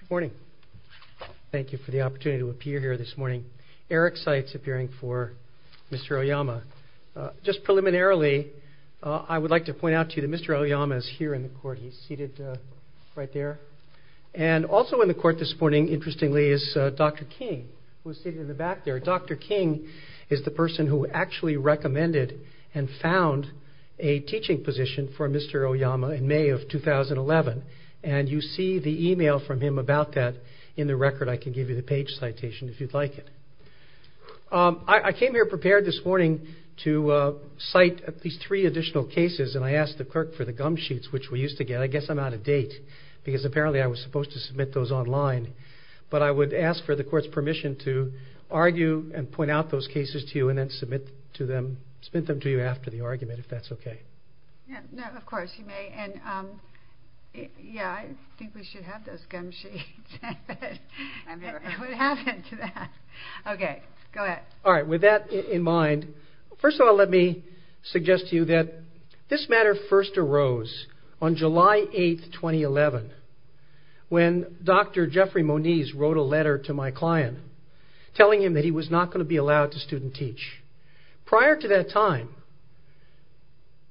Good morning. Thank you for the opportunity to appear here this morning. Eric Seitz appearing for Mr. Oyama. Just preliminarily, I would like to point out to you that Mr. Oyama is here in the court. He's seated right there. And also in the court this morning, interestingly, is Dr. King, who is seated in the back there. Dr. King is the person who actually recommended and found a teaching position for Mr. Oyama in May of 2011. And you see the email from him about that in the record. I can give you the page citation if you'd like it. I came here prepared this morning to cite at least three additional cases, and I asked the clerk for the gum sheets, which we used to get. I guess I'm out of date, because apparently I was supposed to submit those online. But I would ask for the court's permission to go ahead and submit them to you after the argument, if that's okay? Yes, of course, you may. I think we should have those gum sheets. What happened to that? Okay, go ahead. With that in mind, first of all, let me suggest to you that this matter first arose on July 8, 2011, when Dr. Jeffrey Moniz wrote a letter to my client telling him that he was not going to be allowed to student teach. Prior to that time,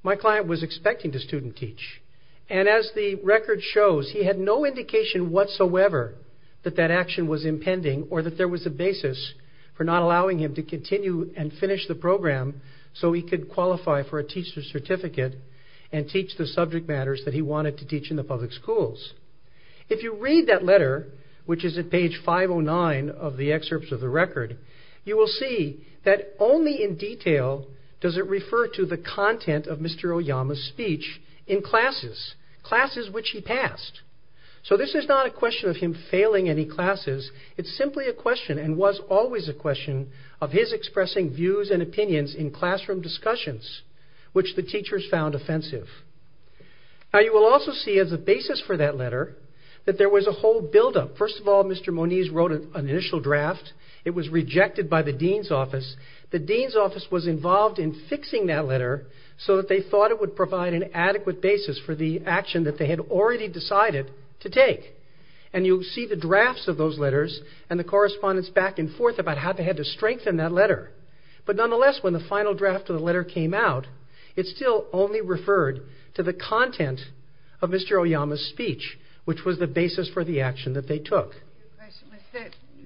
my client was expecting to student teach. And as the record shows, he had no indication whatsoever that that action was impending or that there was a basis for not allowing him to continue and finish the program so he could qualify for a teacher's certificate and teach the subject matters that he wanted to teach in the public schools. If you read that letter, which is at page 509 of the excerpts of the record, you will see that only in detail does it refer to the content of Mr. Oyama's speech in classes, classes which he passed. So this is not a question of him failing any classes. It's simply a question, and was always a question, of his expressing views and opinions in classroom discussions, which the teachers found offensive. Now, you will also see as a basis for that letter that there was a whole buildup. First of all, Mr. Moniz wrote an initial draft. It was rejected by the dean's office. The dean's office was involved in fixing that letter so that they thought it would provide an adequate basis for the action that they had already decided to take. And you'll see the drafts of those letters and the correspondence back and forth about how they had to strengthen that letter. But nonetheless, when the final draft of the letter came out, it still only referred to the content of Mr. Oyama's speech, which was the basis for the action that they took.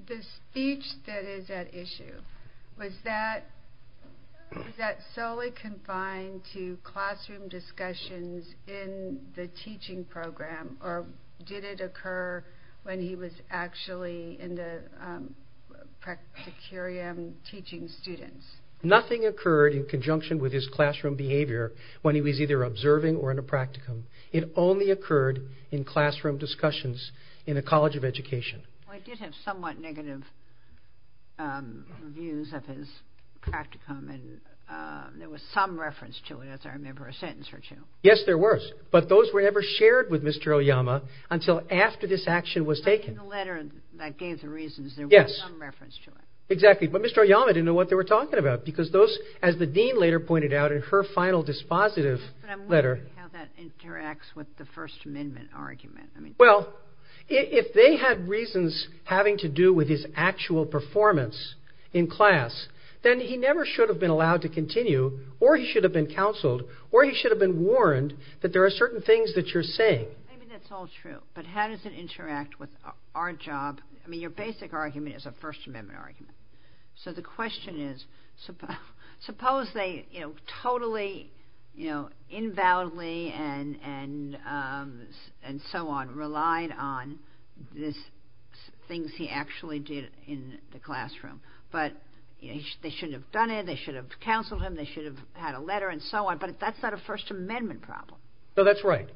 The speech that is at issue, was that solely confined to classroom discussions in the teaching program, or did it occur when he was actually in the practicum teaching students? Nothing occurred in conjunction with his classroom behavior when he was either observing or in the practicum. It only occurred in classroom discussions in a college of education. Well, it did have somewhat negative views of his practicum, and there was some reference to it, as I remember, a sentence or two. Yes, there was. But those were never shared with Mr. Oyama until after this action was taken. But in the letter that gave the reasons, there was some reference to it. Yes, exactly. But Mr. Oyama didn't know what they were talking about, because those, as the dean later pointed out in her final dispositive letter... But I'm wondering how that interacts with the First Amendment argument. Well, if they had reasons having to do with his actual performance in class, then he never should have been allowed to continue, or he should have been counseled, or he should have been warned that there are certain things that you're saying. Maybe that's all true, but how does it interact with our job? I mean, your basic argument is a First Amendment argument. So the question is, suppose they totally, invalidly, and so on, relied on the things he actually did in the classroom, but they shouldn't have done it, they should have counseled him, they should have had a letter, and so on, but that's not a First Amendment problem. No, that's right.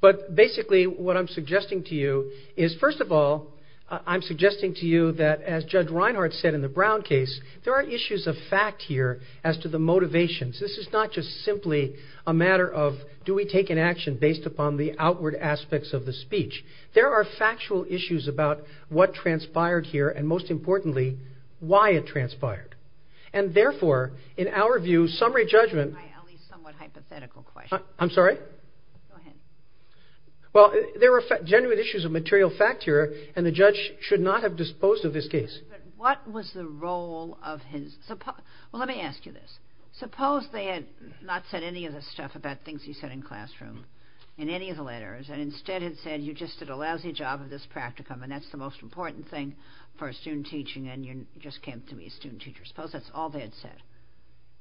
But basically, what I'm suggesting to you is, first of all, I'm suggesting to you that, as Judge Reinhardt said in the Brown case, there are issues of fact here as to the motivations. This is not just simply a matter of, do we take an action based upon the outward aspects of the speech? There are factual issues about what transpired here, and most importantly, why it transpired. And therefore, in our view, summary judgment... But what was the role of his... Well, let me ask you this. Suppose they had not said any of this stuff about things he said in classroom, in any of the letters, and instead had said, you just did a lousy job of this practicum, and that's the most important thing for a student teaching, and you just came to be a student teacher. Suppose that's all they had said.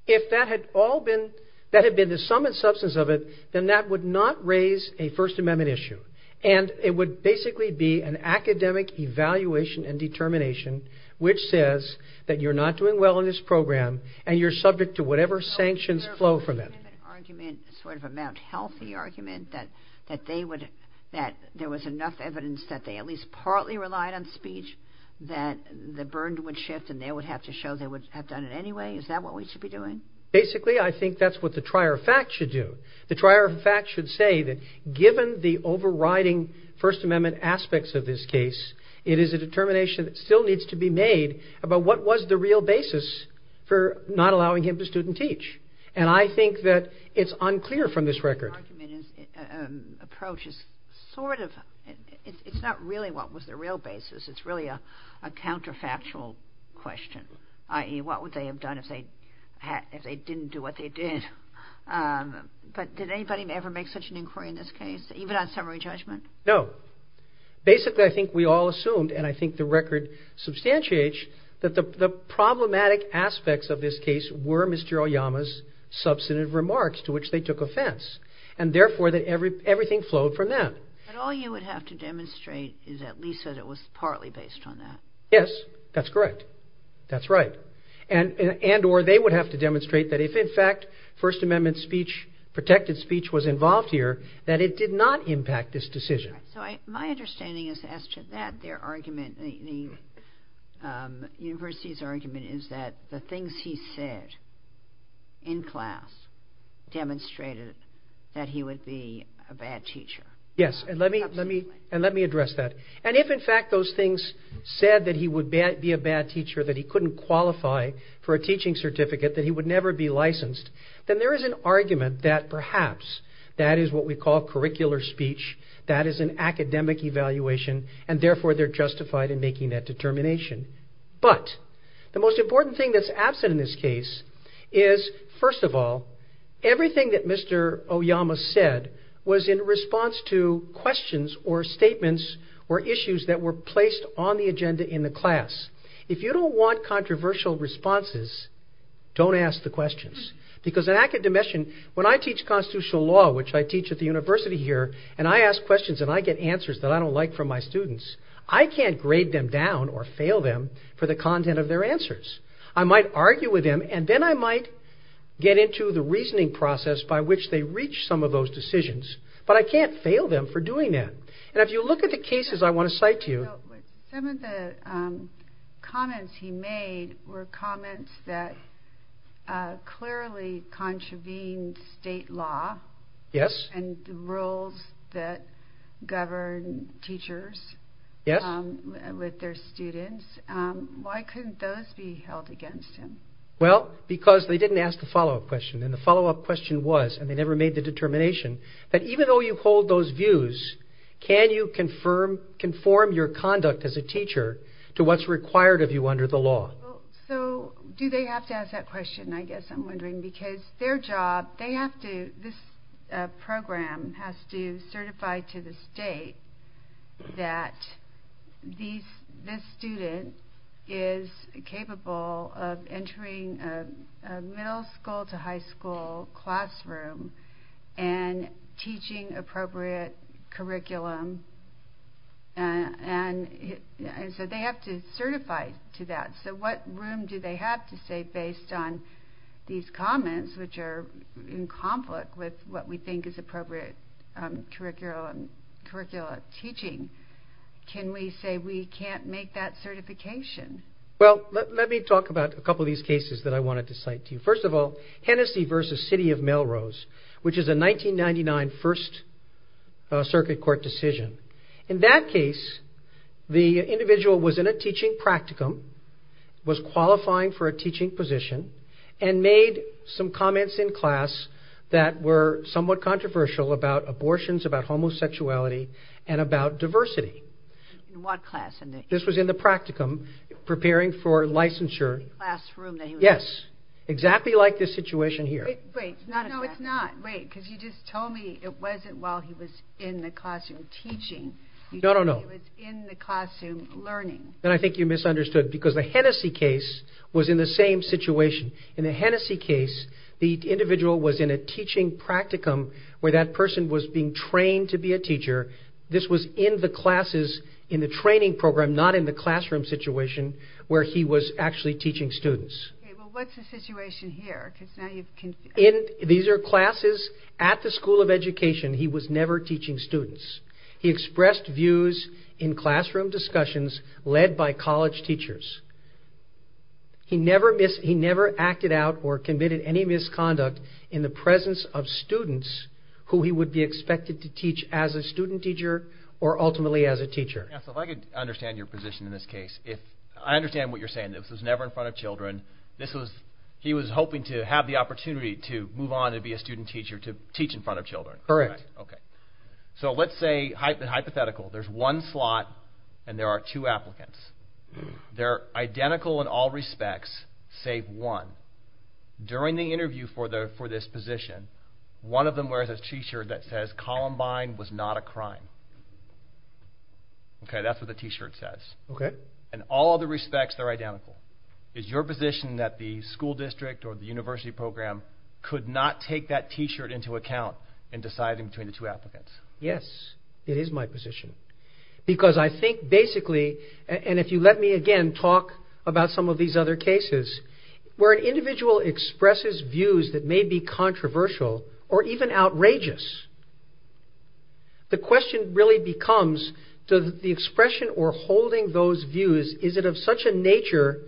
If that had all been, that had been the sum and substance of it, then that would not raise a First Amendment issue, and it would basically be an academic evaluation and determination which says that you're not doing well in this program, and you're subject to whatever sanctions flow from it. So, there would have been an argument, sort of a Mount Healthy argument, that they would, that there was enough evidence that they at least partly relied on speech, that the burden would shift, and they would have to show they would have done it anyway? Is that what we should be doing? Basically, I think that's what the trier of fact should do. The trier of fact should say that given the overriding First Amendment aspects of this case, it is a determination that still needs to be made about what was the real basis for not allowing him to student teach, and I think that it's unclear from this record. The argument is, approach is sort of, it's not really what was the real basis, it's really a counterfactual question, i.e., what would they have done if they didn't do what they did? But did anybody ever make such an inquiry in this case, even on summary judgment? No. Basically, I think we all assumed, and I think the record substantiates, that the problematic aspects of this case were Mr. Oyama's substantive remarks to which they took offense, and therefore, that everything flowed from that. But all you would have to demonstrate is at least that it was partly based on that. Yes, that's correct. That's right. And, or they would have to demonstrate that if, in fact, First Amendment speech, protected speech, was involved here, that it did not impact this decision. So, my understanding is that their argument, the university's argument, is that the things he said in class demonstrated that he would be a bad teacher. Yes, and let me address that. And if, in fact, those things said that he would be a bad teacher, that he couldn't qualify for a teaching certificate, that he would never be licensed, then there is an argument that perhaps that is what we call curricular speech, that is an academic evaluation, and therefore, they're justified in making that determination. But the most important thing that's absent in this case is, first of all, everything that Mr. Oyama said was in response to questions or statements or issues that were placed on the agenda in the class. If you don't want controversial responses, don't ask the questions. Because in academician, when I teach constitutional law, which I teach at the university here, and I ask questions and I get answers that I don't like from my students, I can't grade them down or fail them for the content of their answers. I might argue with them and then I might get into the reasoning process by which they reach some of those decisions, but I can't fail them for doing that. And if you look at the cases I want to cite to you... Some of the comments he made were comments that clearly contravened state law and the rules that govern teachers with their students. Why couldn't those be held against him? Well, because they didn't ask the follow-up question and the follow-up question was, and can you conform your conduct as a teacher to what's required of you under the law? So, do they have to ask that question, I guess I'm wondering, because their job, they have to, this program has to certify to the state that this student is capable of entering a program, and so they have to certify to that. So what room do they have to say based on these comments, which are in conflict with what we think is appropriate curricular teaching, can we say we can't make that certification? Well, let me talk about a couple of these cases that I wanted to cite to you. First of all, Hennessy v. City of Melrose, which is a 1999 First Circuit Court decision. In that case, the individual was in a teaching practicum, was qualifying for a teaching position, and made some comments in class that were somewhat controversial about abortions, about homosexuality, and about diversity. In what class? This was in the practicum, preparing for licensure. In the classroom? Yes. Exactly like this situation here. Wait, no it's not. Wait, because you just told me it wasn't while he was in the classroom teaching. No, no, no. It was in the classroom learning. Then I think you misunderstood, because the Hennessy case was in the same situation. In the Hennessy case, the individual was in a teaching practicum where that person was being I'm not in the classroom situation where he was actually teaching students. Okay, well what's the situation here? These are classes at the School of Education. He was never teaching students. He expressed views in classroom discussions led by college teachers. He never acted out or committed any misconduct in the presence of students who he would be expected to teach as a student teacher or ultimately as a teacher. Yeah, so if I could understand your position in this case. I understand what you're saying. This was never in front of children. He was hoping to have the opportunity to move on to be a student teacher, to teach in front of children. Correct. Okay. So let's say, hypothetical, there's one slot and there are two applicants. They're identical in all respects, save one. During the interview for this position, one of them was not a crime. Okay, that's what the T-shirt says. Okay. In all other respects, they're identical. Is your position that the school district or the university program could not take that T-shirt into account in deciding between the two applicants? Yes, it is my position because I think basically, and if you let me again talk about some of these other cases, where an individual expresses views that may be controversial or even outrageous. The question really becomes, does the expression or holding those views, is it of such a nature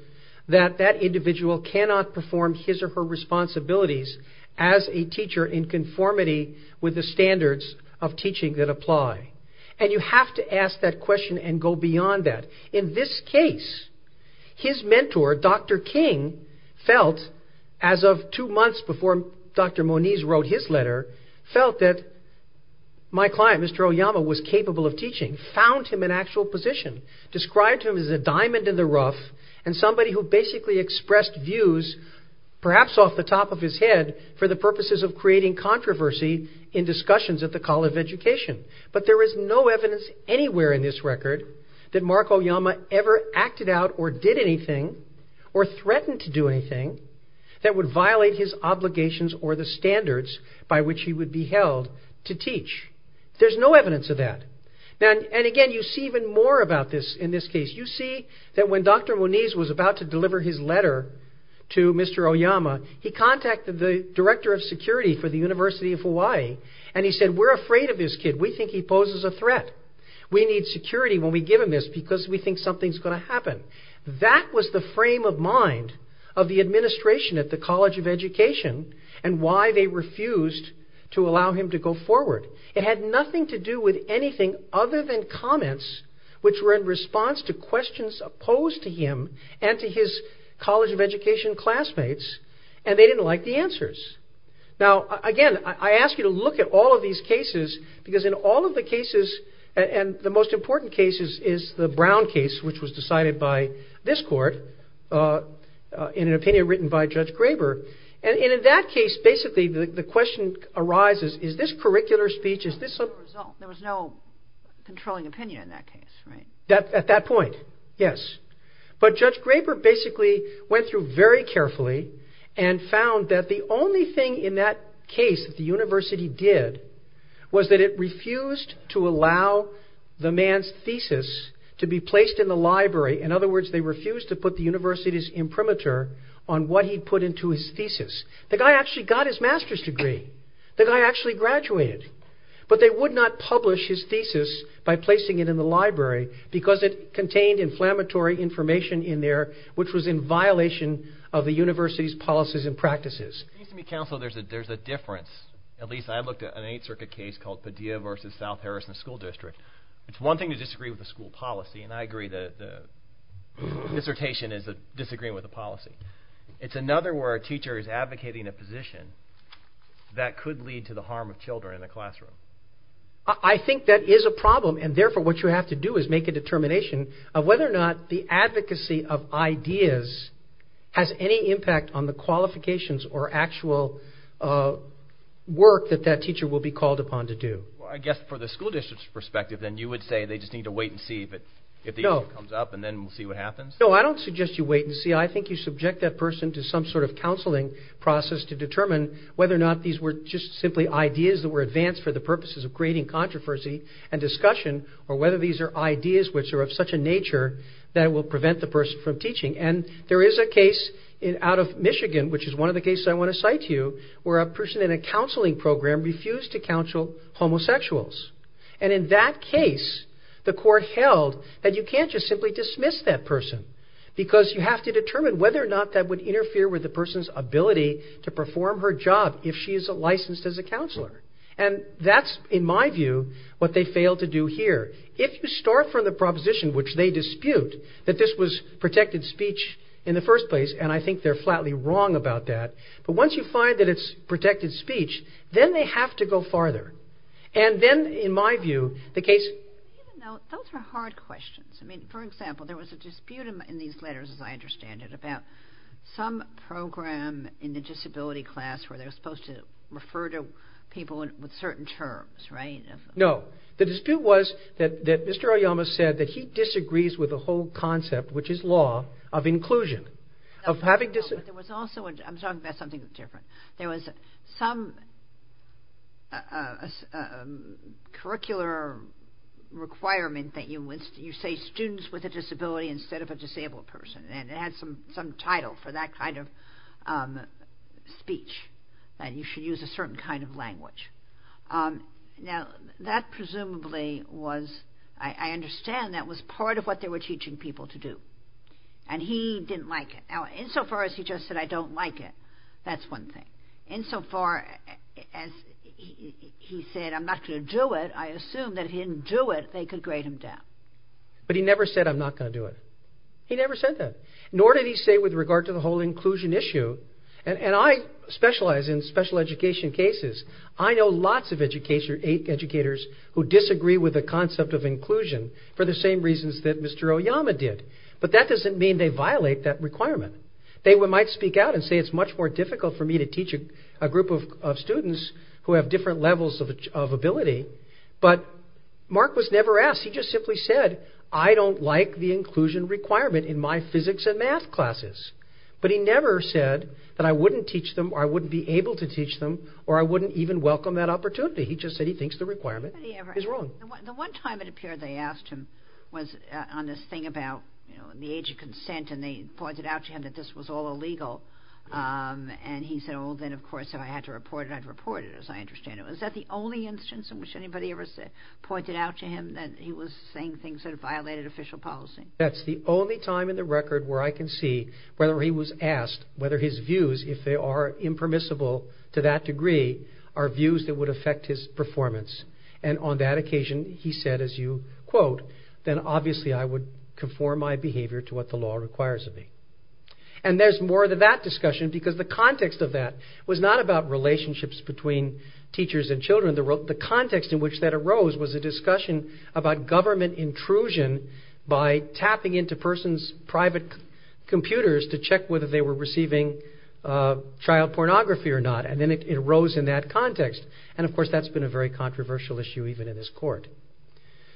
that that individual cannot perform his or her responsibilities as a teacher in conformity with the standards of teaching that apply? And you have to ask that question and go beyond that. In this case, his mentor, Dr. King, felt as of two felt that my client, Mr. Oyama, was capable of teaching, found him an actual position, described him as a diamond in the rough and somebody who basically expressed views, perhaps off the top of his head, for the purposes of creating controversy in discussions at the College of Education. But there is no evidence anywhere in this record that Mark Oyama ever acted out or did anything or threatened to do anything that would violate his obligations or the standards by which he would be held to teach. There's no evidence of that. And again, you see even more about this in this case. You see that when Dr. Moniz was about to deliver his letter to Mr. Oyama, he contacted the director of security for the University of Hawaii and he said, we're afraid of this kid. We think he poses a threat. We need security when we give him this because we think something's going to happen. That was the frame of mind of the administration at the College of Education and why they refused to allow him to go forward. It had nothing to do with anything other than comments which were in response to questions opposed to him and to his College of Education classmates and they didn't like the answers. Now, again, I ask you to look at all of these cases because in all of the cases, and the most important case is the Brown case which was decided by this court in an opinion written by Judge Graber. And in that case, basically, the question arises, is this curricular speech? There was no controlling opinion in that case, right? At that point, yes. But Judge Graber basically went through very carefully and found that the only thing in that case that the university did was that it refused to allow the man's thesis to be placed in the library. In other words, they refused to put the university's imprimatur on what he'd put into his thesis. The guy actually got his master's degree. The guy actually graduated. But they would not publish his thesis by placing it in the library because it contained inflammatory information in there which was in violation of the university's policies and practices. It seems to me, Counsel, there's a difference. At least, I looked at an Eighth Circuit case called Padilla v. South Harrison School District. It's one thing to disagree with the school policy and I agree that dissertation is disagreeing with the policy. It's another where a teacher is advocating a position that could lead to the harm of children in the classroom. I think that is a problem and, therefore, what you have to do is make a determination of whether or not the advocacy of ideas has any impact on the qualifications or actual work that that teacher will be called upon to do. Well, I guess for the school district's perspective, then you would say they just need to wait and see if the issue comes up and then we'll see what happens? No, I don't suggest you wait and see. I think you subject that person to some sort of counseling process to determine whether or not these were just simply ideas that were advanced for the purposes of creating controversy and discussion or whether these are ideas which are of such a nature that will prevent the person from teaching. And there is a case out of Michigan, which is one of the cases I want to cite to you, where a person in a counseling program refused to counsel homosexuals. And in that case, the court held that you can't just simply dismiss that person because you have to determine whether or not that would interfere with the person's ability to perform her job if she is licensed as a counselor. And that's, in my view, what they failed to do here. If you start from the proposition, which they dispute, that this was protected speech in the first place, and I think they're flatly wrong about that, but once you find that it's protected speech, then they have to go farther. And then, in my view, the case... Those are hard questions. I mean, for example, there was a dispute in these letters, as I understand it, about some program in the disability class where they're supposed to refer to people with certain terms, right? No. The dispute was that Mr. Oyama said that he disagrees with the whole concept, which is law, of inclusion. I'm talking about something different. There was some curricular requirement that you say students with a disability instead of a disabled person, and it had some title for that kind of speech, that you should use a certain kind of language. Now, that presumably was... I understand that was part of what they were teaching people to do. And he didn't like it. Now, insofar as he just said, I don't like it, that's one thing. Insofar as he said, I'm not going to do it, I assume that if he didn't do it, they could grade him down. But he never said, I'm not going to do it. He never said that. Nor did he say with regard to the whole inclusion issue. And I specialize in special education cases. I know lots of educators who disagree with the concept of inclusion for the same reasons that Mr. Oyama did. But that doesn't mean they violate that requirement. They might speak out and say it's much more difficult for me to teach a group of students who have different levels of ability. But Mark was never asked. He just simply said, I don't like the inclusion requirement in my physics and math classes. But he never said that I wouldn't teach them or I wouldn't be able to teach them or I wouldn't even welcome that opportunity. He just said he thinks the requirement is wrong. The one time it appeared they asked him was on this thing about the age of consent and they pointed out to him that this was all illegal. And he said, well, then, of course, if I had to report it, I'd report it, as I understand it. Was that the only instance in which anybody ever pointed out to him that he was saying things that violated official policy? That's the only time in the record where I can see whether he was asked, whether his views, if they are impermissible to that degree, are views that would affect his performance. And on that occasion he said, as you quote, then obviously I would conform my behavior to what the law requires of me. And there's more to that discussion because the context of that was not about relationships between teachers and children. The context in which that arose was a discussion about government intrusion by tapping into persons' private computers to check whether they were receiving child pornography or not. And then it arose in that context. And, of course, that's been a very controversial issue even in this court.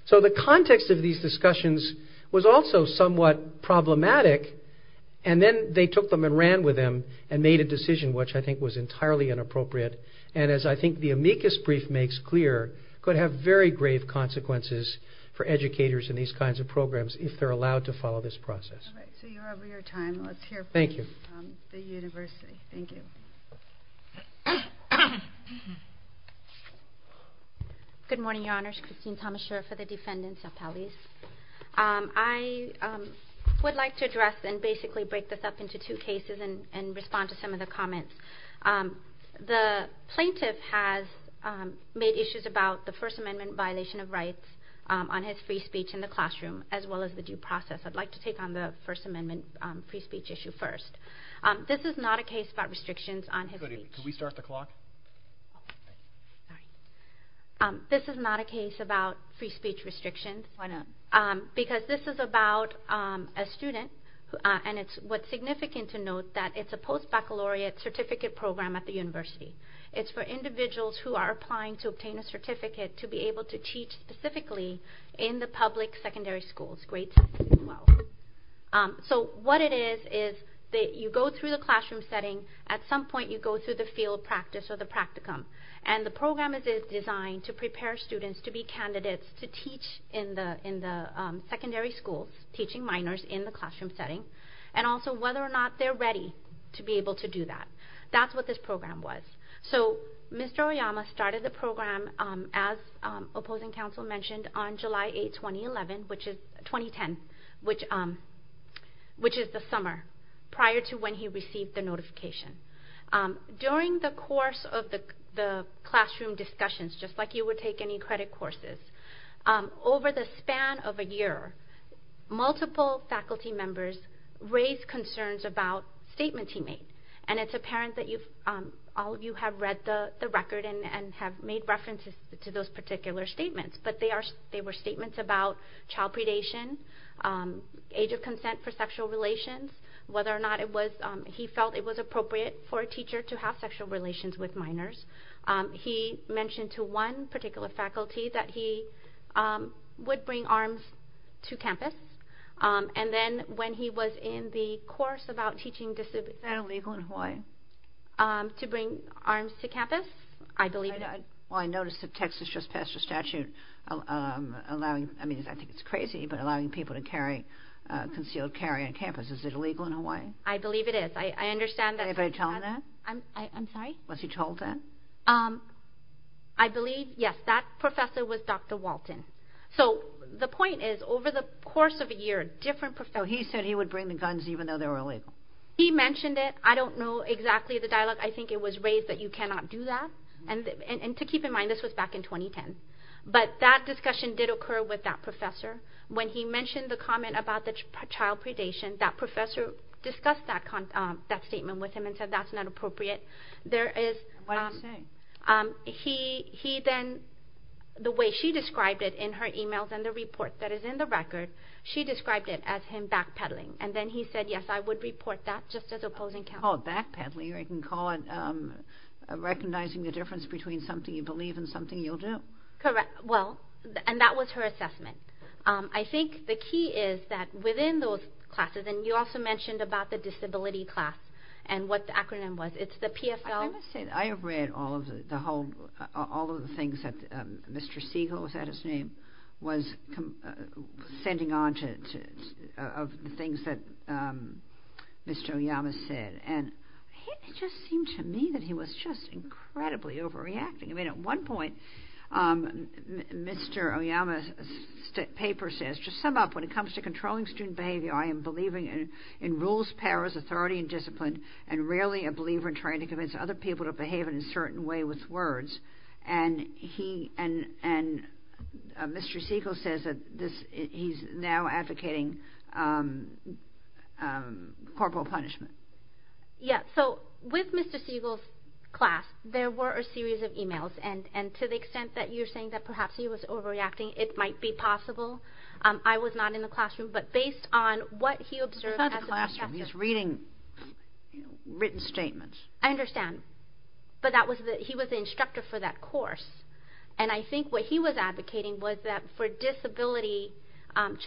So the context of these discussions was also somewhat problematic and then they took them and ran with them and made a decision which I think was entirely inappropriate. And as I think the amicus brief makes clear, it could have very grave consequences for educators in these kinds of programs if they're allowed to follow this process. All right. So you're over your time. Let's hear from the university. Thank you. Good morning, Your Honors. Christine Thomas-Schur for the defendants appellees. I would like to address and basically break this up into two cases and respond to some of the comments. The plaintiff has made issues about the First Amendment violation of rights on his free speech in the classroom as well as the due process. I'd like to take on the First Amendment free speech issue first. This is not a case about restrictions on his speech. Could we start the clock? This is not a case about free speech restrictions. Why not? Because this is about a student and what's significant to note that it's a post-baccalaureate certificate program at the university. It's for individuals who are applying to obtain a certificate to be able to teach specifically in the public secondary schools, grades as well. So what it is is that you go through the classroom setting. At some point, you go through the field practice or the practicum. And the program is designed to prepare students to be candidates to teach in the secondary schools, teaching minors in the classroom setting, and also whether or not they're ready to be able to do that. That's what this program was. So Mr. Oyama started the program, as opposing counsel mentioned, on July 8, 2010, which is the summer prior to when he received the notification. During the course of the classroom discussions, just like you would take any credit courses, over the span of a year, multiple faculty members raised concerns about statements he made. And it's apparent that all of you have read the record and have made references to those particular statements. But they were statements about child predation, age of consent for sexual relations, whether or not he felt it was appropriate for a teacher to have sexual relations with minors. He mentioned to one particular faculty that he would bring arms to campus. And then when he was in the course about teaching disability... Is that illegal in Hawaii? To bring arms to campus? I believe it is. Well, I noticed that Texas just passed a statute allowing, I mean, I think it's crazy, but allowing people to carry concealed carry on campus. Is it illegal in Hawaii? I believe it is. I understand that... Anybody tell him that? I'm sorry? Was he told that? I believe, yes, that professor was Dr. Walton. So the point is, over the course of a year, different professors... So he said he would bring the guns even though they were illegal. He mentioned it. I don't know exactly the dialogue. I think it was raised that you cannot do that. And to keep in mind, this was back in 2010. But that discussion did occur with that professor. When he mentioned the comment about the child predation, that professor discussed that statement with him and said that's not appropriate. There is... What did he say? He then, the way she described it in her emails and the report that is in the record, she described it as him backpedaling. And then he said, yes, I would report that just as opposing counsel. Oh, backpedaling. Or you can call it recognizing the difference between something you believe and something you'll do. Correct. Well, and that was her assessment. I think the key is that within those classes, and you also mentioned about the disability class and what the acronym was. It's the PFL... I must say that I have read all of the things that Mr. Siegel, was that his name, was sending on of the things that Mr. Oyama said. And it just seemed to me that he was just incredibly overreacting. I mean, at one point, Mr. Oyama's paper says, to sum up, when it comes to controlling student behavior, I am believing in rules, powers, authority, and discipline, and really a believer in trying to convince other people to behave in a certain way with words. And Mr. Siegel says that he's now advocating corporal punishment. Yes, so with Mr. Siegel's class, there were a series of emails. And to the extent that you're saying that perhaps he was overreacting, it might be possible. I was not in the classroom. But based on what he observed... He's not in the classroom. He's reading written statements. I understand. But he was the instructor for that course. And I think what he was advocating was that for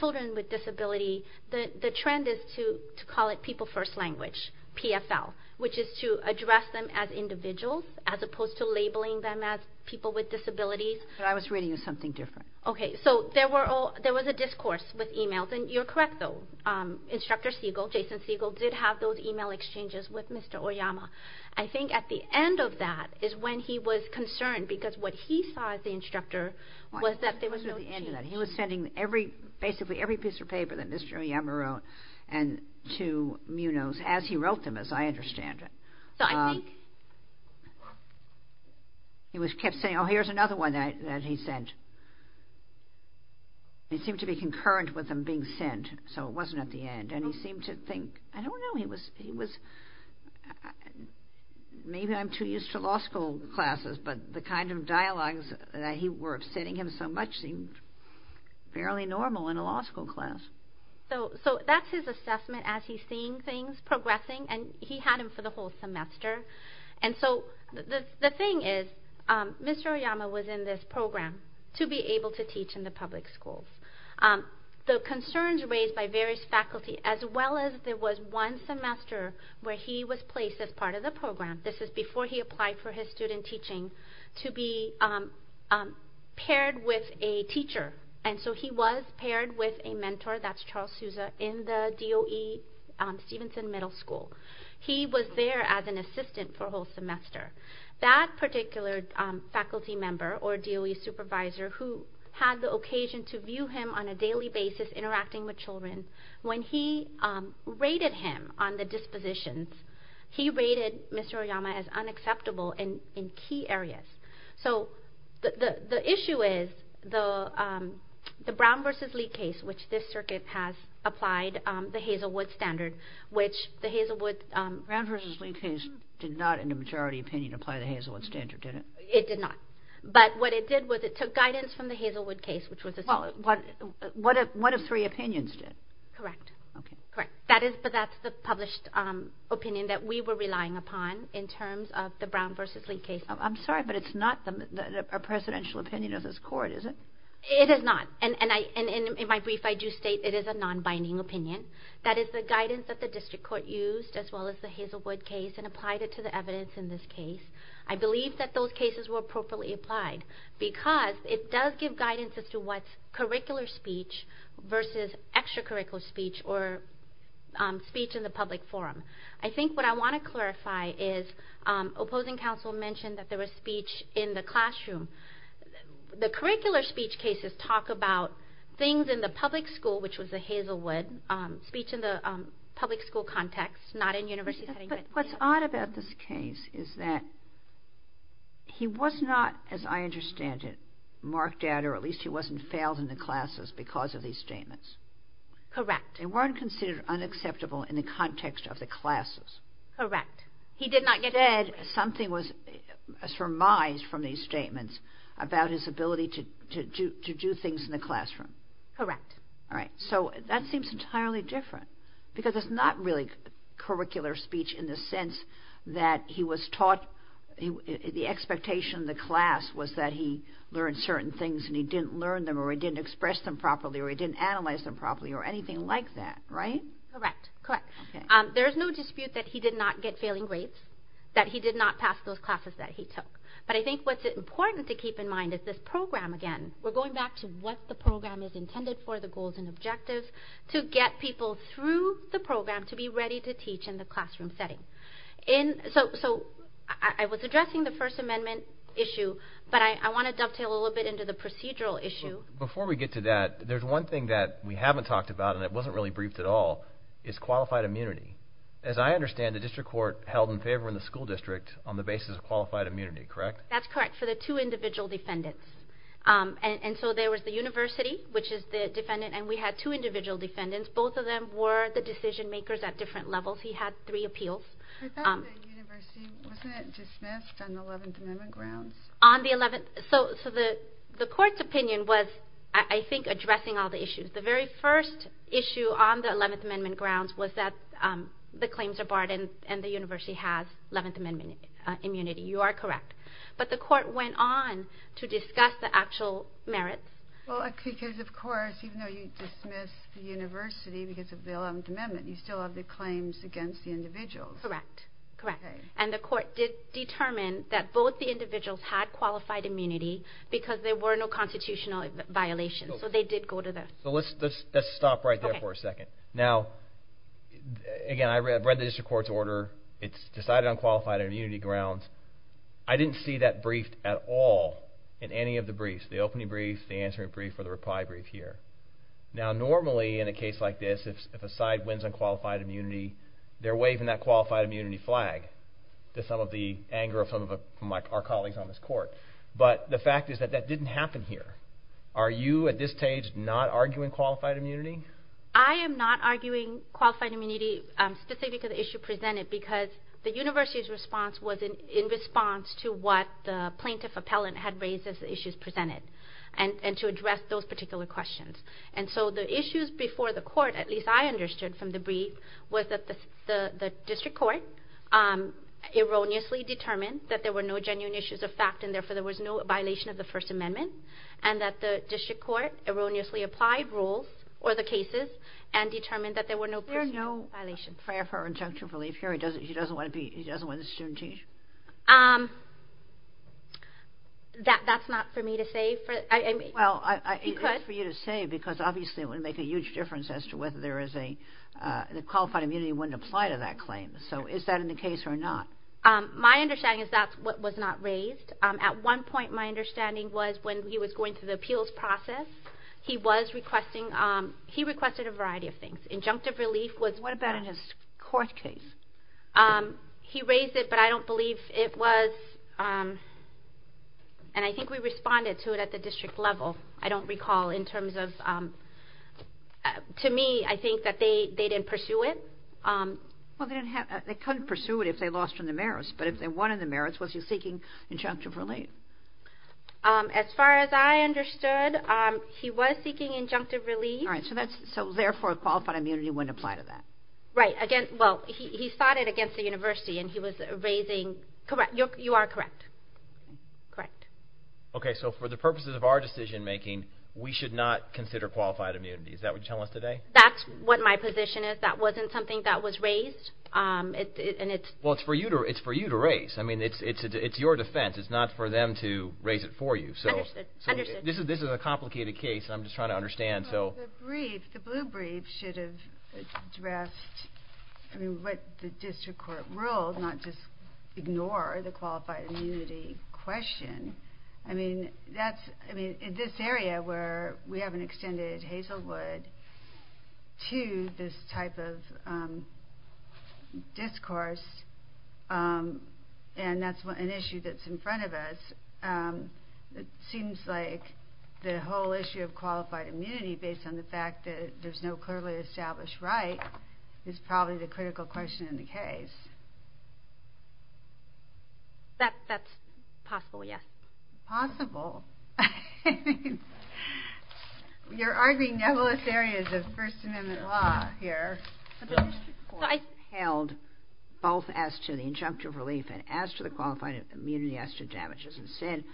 children with disability, the trend is to call it People First Language, PFL, which is to address them as individuals, as opposed to labeling them as people with disabilities. But I was reading something different. Okay, so there was a discourse with emails. And you're correct, though, Instructor Siegel, Jason Siegel, did have those email exchanges with Mr. Oyama. I think at the end of that is when he was concerned because what he saw as the instructor was that there was no change. He was sending basically every piece of paper that Mr. Oyama wrote to MUNOs as he wrote them, as I understand it. He kept saying, oh, here's another one that he sent. It seemed to be concurrent with him being sent, so it wasn't at the end. And he seemed to think, I don't know, he was... Maybe I'm too used to law school classes, but the kind of dialogues that were upsetting him so much seemed fairly normal in a law school class. So that's his assessment as he's seeing things progressing, and he had him for the whole semester. And so the thing is, Mr. Oyama was in this program to be able to teach in the public schools. The concerns raised by various faculty, as well as there was one semester where he was placed as part of the program, this is before he applied for his student teaching, to be paired with a teacher. And so he was paired with a mentor, that's Charles Souza, in the DOE Stevenson Middle School. He was there as an assistant for a whole semester. That particular faculty member, or DOE supervisor, who had the occasion to view him on a daily basis, interacting with children, when he rated him on the dispositions, he rated Mr. Oyama as unacceptable in key areas. So the issue is, the Brown v. Lee case, which this circuit has applied the Hazelwood standard, which the Hazelwood... Brown v. Lee case did not, in the majority opinion, apply the Hazelwood standard, did it? It did not. But what it did was it took guidance from the Hazelwood case, which was... Well, what if three opinions did? Correct. Okay. Correct. But that's the published opinion that we were relying upon in terms of the Brown v. Lee case. I'm sorry, but it's not a presidential opinion of this court, is it? It is not. And in my brief, I do state it is a non-binding opinion. That is the guidance that the district court used, as well as the Hazelwood case, and applied it to the evidence in this case. I believe that those cases were appropriately applied because it does give guidance as to what's curricular speech versus extracurricular speech or speech in the public forum. I think what I want to clarify is, opposing counsel mentioned that there was speech in the classroom. The curricular speech cases talk about things in the public school, which was the Hazelwood speech in the public school context, not in university setting. But what's odd about this case is that he was not, as I understand it, marked out or at least he wasn't failed in the classes because of these statements. Correct. They weren't considered unacceptable in the context of the classes. Correct. Instead, something was surmised from these statements about his ability to do things in the classroom. Correct. All right. So that seems entirely different because it's not really curricular speech in the sense that he was taught. The expectation of the class was that he learned certain things and he didn't learn them or he didn't express them properly or he didn't analyze them properly or anything like that, right? Correct. Correct. There is no dispute that he did not get failing grades, that he did not pass those classes that he took. But I think what's important to keep in mind is this program, again. We're going back to what the program is intended for, the goals and objectives, to get people through the program to be ready to teach in the classroom setting. So I was addressing the First Amendment issue, but I want to dovetail a little bit into the procedural issue. Before we get to that, there's one thing that we haven't talked about and it wasn't really briefed at all is qualified immunity. As I understand, the district court held in favor in the school district on the basis of qualified immunity, correct? That's correct for the two individual defendants. And so there was the university, which is the defendant, and we had two individual defendants. Both of them were the decision makers at different levels. He had three appeals. I thought the university wasn't dismissed on the Eleventh Amendment grounds. So the court's opinion was, I think, addressing all the issues. The very first issue on the Eleventh Amendment grounds was that the claims are barred and the university has Eleventh Amendment immunity. You are correct. But the court went on to discuss the actual merits. Because, of course, even though you dismiss the university because of the Eleventh Amendment, you still have the claims against the individuals. Correct. And the court did determine that both the individuals had qualified immunity because there were no constitutional violations. So they did go to the… Let's stop right there for a second. Now, again, I read the district court's order. It's decided on qualified immunity grounds. I didn't see that briefed at all in any of the briefs. The opening brief, the answering brief, or the reply brief here. Now, normally, in a case like this, if a side wins on qualified immunity, they're waving that qualified immunity flag to some of the anger of some of our colleagues on this court. But the fact is that that didn't happen here. Are you, at this stage, not arguing qualified immunity? I am not arguing qualified immunity specific to the issue presented because the university's response was in response to what the plaintiff appellant had raised as the issues presented and to address those particular questions. And so the issues before the court, at least I understood from the brief, was that the district court erroneously determined that there were no genuine issues of fact and therefore there was no violation of the First Amendment and that the district court erroneously applied rules or the cases and determined that there were no personal violations. Is it fair for her injunctive relief here? She doesn't want to be, she doesn't want the student changed? That's not for me to say. Well, it's for you to say because obviously it would make a huge difference as to whether there is a, the qualified immunity wouldn't apply to that claim. So is that in the case or not? My understanding is that's what was not raised. At one point, my understanding was when he was going through the appeals process, he was requesting, he requested a variety of things. Injunctive relief was... What about in his court case? He raised it, but I don't believe it was, and I think we responded to it at the district level. I don't recall in terms of, to me, I think that they didn't pursue it. Well, they couldn't pursue it if they lost from the merits, but if they won in the merits, was he seeking injunctive relief? As far as I understood, he was seeking injunctive relief. All right. So therefore, qualified immunity wouldn't apply to that. Right. Again, well, he fought it against the university, and he was raising... Correct. You are correct. Correct. Okay. So for the purposes of our decision-making, we should not consider qualified immunity. Is that what you're telling us today? That's what my position is. That wasn't something that was raised, and it's... Well, it's for you to raise. I mean, it's your defense. It's not for them to raise it for you. Understood. This is a complicated case, and I'm just trying to understand. The brief, the blue brief, should have addressed what the district court ruled, not just ignore the qualified immunity question. I mean, in this area where we haven't extended Hazelwood to this type of discourse, and that's an issue that's in front of us, it seems like the whole issue of qualified immunity, based on the fact that there's no clearly established right, is probably the critical question in the case. That's possible, yes. Possible? You're arguing nebulous areas of First Amendment law here. The district court held both as to the injunctive relief and as to the qualified immunity as to damages and sin,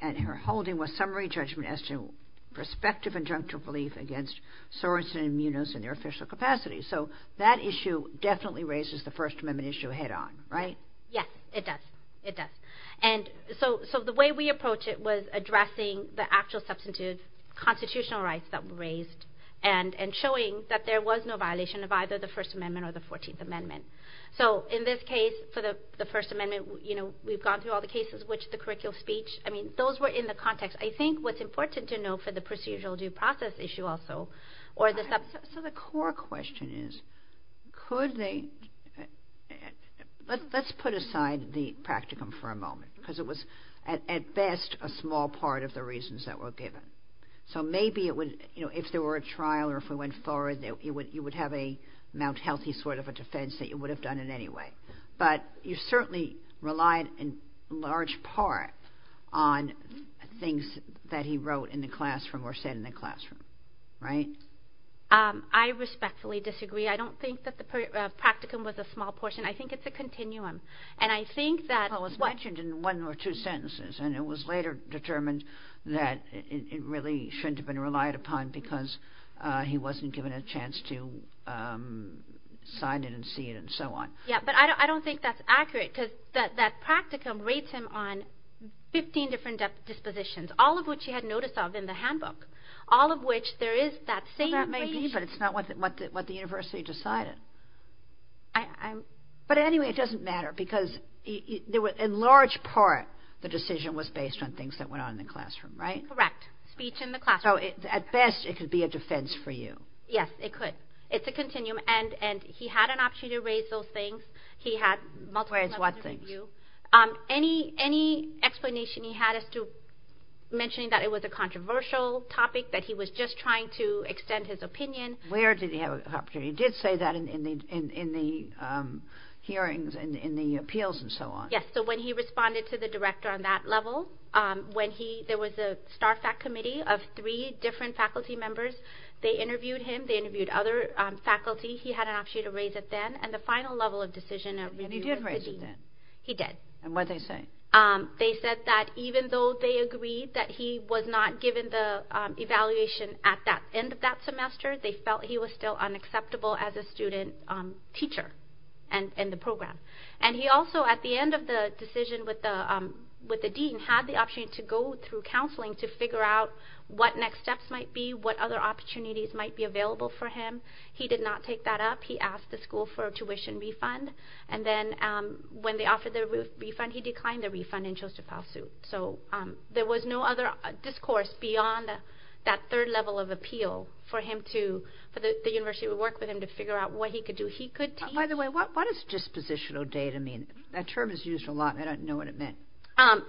and her holding was summary judgment as to prospective injunctive relief against sorensen immunos in their official capacity. So that issue definitely raises the First Amendment issue head on, right? Yes, it does. It does. And so the way we approach it was addressing the actual substitute constitutional rights that were raised and showing that there was no violation of either the First Amendment or the Fourteenth Amendment. So in this case, for the First Amendment, you know, we've gone through all the cases, which the curricular speech, I mean, those were in the context. I think what's important to note for the procedural due process issue also, or the substance. So the core question is, could they, let's put aside the practicum for a moment, because it was at best a small part of the reasons that were given. So maybe it would, you know, if there were a trial or if we went forward, you would have a Mount Healthy sort of a defense that you would have done it anyway. But you certainly relied in large part on things that he wrote in the classroom or said in the classroom, right? I respectfully disagree. I don't think that the practicum was a small portion. I think it's a continuum. And I think that what was mentioned in one or two sentences, and it was later determined that it really shouldn't have been relied upon because he wasn't given a chance to sign it and see it and so on. Yeah, but I don't think that's accurate because that practicum rates him on 15 different dispositions, all of which he had notice of in the handbook, all of which there is that same. Well, that may be, but it's not what the university decided. But anyway, it doesn't matter because in large part, the decision was based on things that went on in the classroom, right? Correct, speech in the classroom. So at best, it could be a defense for you. Yes, it could. It's a continuum. And he had an opportunity to raise those things. He had multiple opportunities to review. Any explanation he had as to mentioning that it was a controversial topic, that he was just trying to extend his opinion. Where did he have an opportunity? He did say that in the hearings and in the appeals and so on. Yes, so when he responded to the director on that level, there was a STARFAC committee of three different faculty members. They interviewed him. They interviewed other faculty. He had an opportunity to raise it then. And the final level of decision at review was the dean. And he did raise it then? He did. And what did they say? They said that even though they agreed that he was not given the evaluation at the end of that semester, they felt he was still unacceptable as a student teacher in the program. And he also, at the end of the decision with the dean, had the opportunity to go through counseling to figure out what next steps might be, what other opportunities might be available for him. He did not take that up. He asked the school for a tuition refund. And then when they offered the refund, he declined the refund and chose to file suit. So there was no other discourse beyond that third level of appeal for the university to work with him to figure out what he could do. By the way, what does dispositional data mean? That term is used a lot, and I don't know what it meant.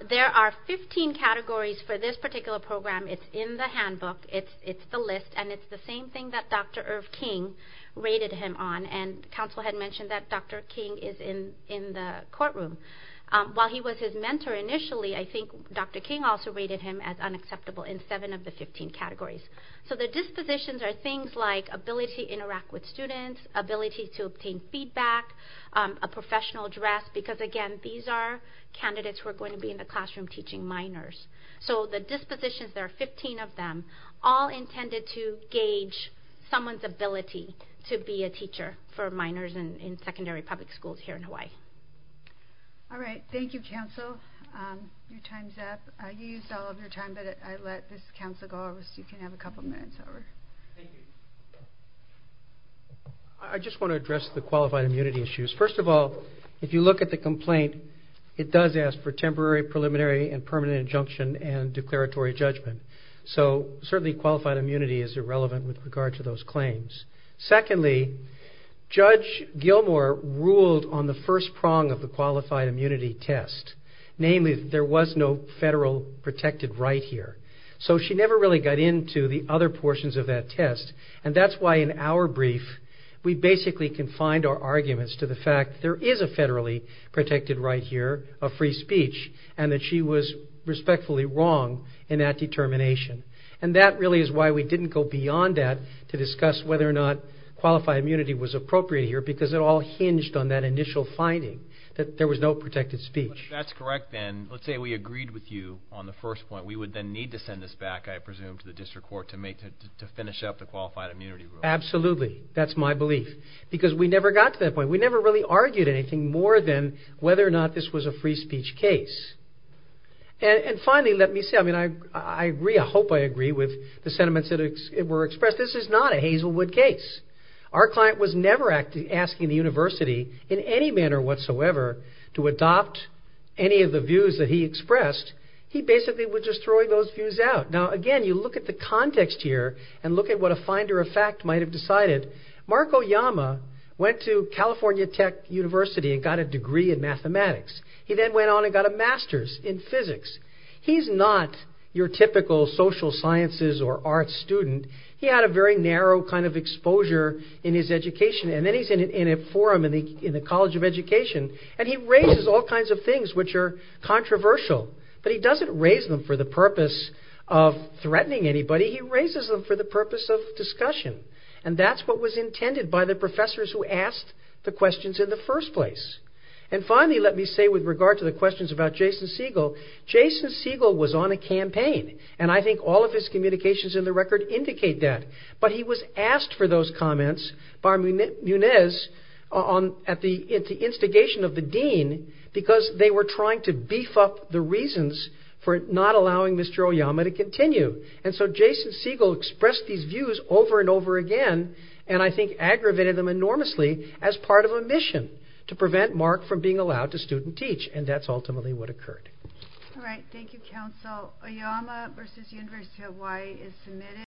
There are 15 categories for this particular program. It's in the handbook. It's the list. And it's the same thing that Dr. Irv King rated him on. And counsel had mentioned that Dr. King is in the courtroom. While he was his mentor initially, I think Dr. King also rated him as unacceptable in seven of the 15 categories. So the dispositions are things like ability to interact with students, ability to obtain feedback, a professional dress, because, again, these are candidates who are going to be in the classroom teaching minors. So the dispositions, there are 15 of them, all intended to gauge someone's ability to be a teacher for minors in secondary public schools here in Hawaii. All right. Thank you, counsel. Your time's up. You used all of your time, but I let this counsel go. You can have a couple minutes over. Thank you. I just want to address the qualified immunity issues. First of all, if you look at the complaint, it does ask for temporary, preliminary, and permanent injunction and declaratory judgment. So certainly qualified immunity is irrelevant with regard to those claims. Secondly, Judge Gilmour ruled on the first prong of the qualified immunity test, namely that there was no federal protected right here. So she never really got into the other portions of that test, and that's why in our brief we basically confined our arguments to the fact that there is a federally protected right here of free speech and that she was respectfully wrong in that determination. And that really is why we didn't go beyond that to discuss whether or not qualified immunity was appropriate here, because it all hinged on that initial finding that there was no protected speech. If that's correct, then let's say we agreed with you on the first point. We would then need to send this back, I presume, to the district court to finish up the qualified immunity rule. Absolutely. That's my belief. Because we never got to that point. We never really argued anything more than whether or not this was a free speech case. And finally, let me say, I hope I agree with the sentiments that were expressed. This is not a Hazelwood case. Our client was never asking the university in any manner whatsoever to adopt any of the views that he expressed. He basically was just throwing those views out. Now, again, you look at the context here and look at what a finder of fact might have decided. Marco Yama went to California Tech University and got a degree in mathematics. He then went on and got a master's in physics. He's not your typical social sciences or arts student. He had a very narrow kind of exposure in his education, and then he's in a forum in the College of Education, and he raises all kinds of things which are controversial. But he doesn't raise them for the purpose of threatening anybody. He raises them for the purpose of discussion, and that's what was intended by the professors who asked the questions in the first place. And finally, let me say with regard to the questions about Jason Siegel, Jason Siegel was on a campaign, and I think all of his communications in the record indicate that. But he was asked for those comments by Munez at the instigation of the dean because they were trying to beef up the reasons for not allowing Mr. Oyama to continue. And so Jason Siegel expressed these views over and over again, and I think aggravated them enormously as part of a mission to prevent Mark from being allowed to student teach, and that's ultimately what occurred. All right. Thank you, counsel. Oyama v. University of Hawaii is submitted.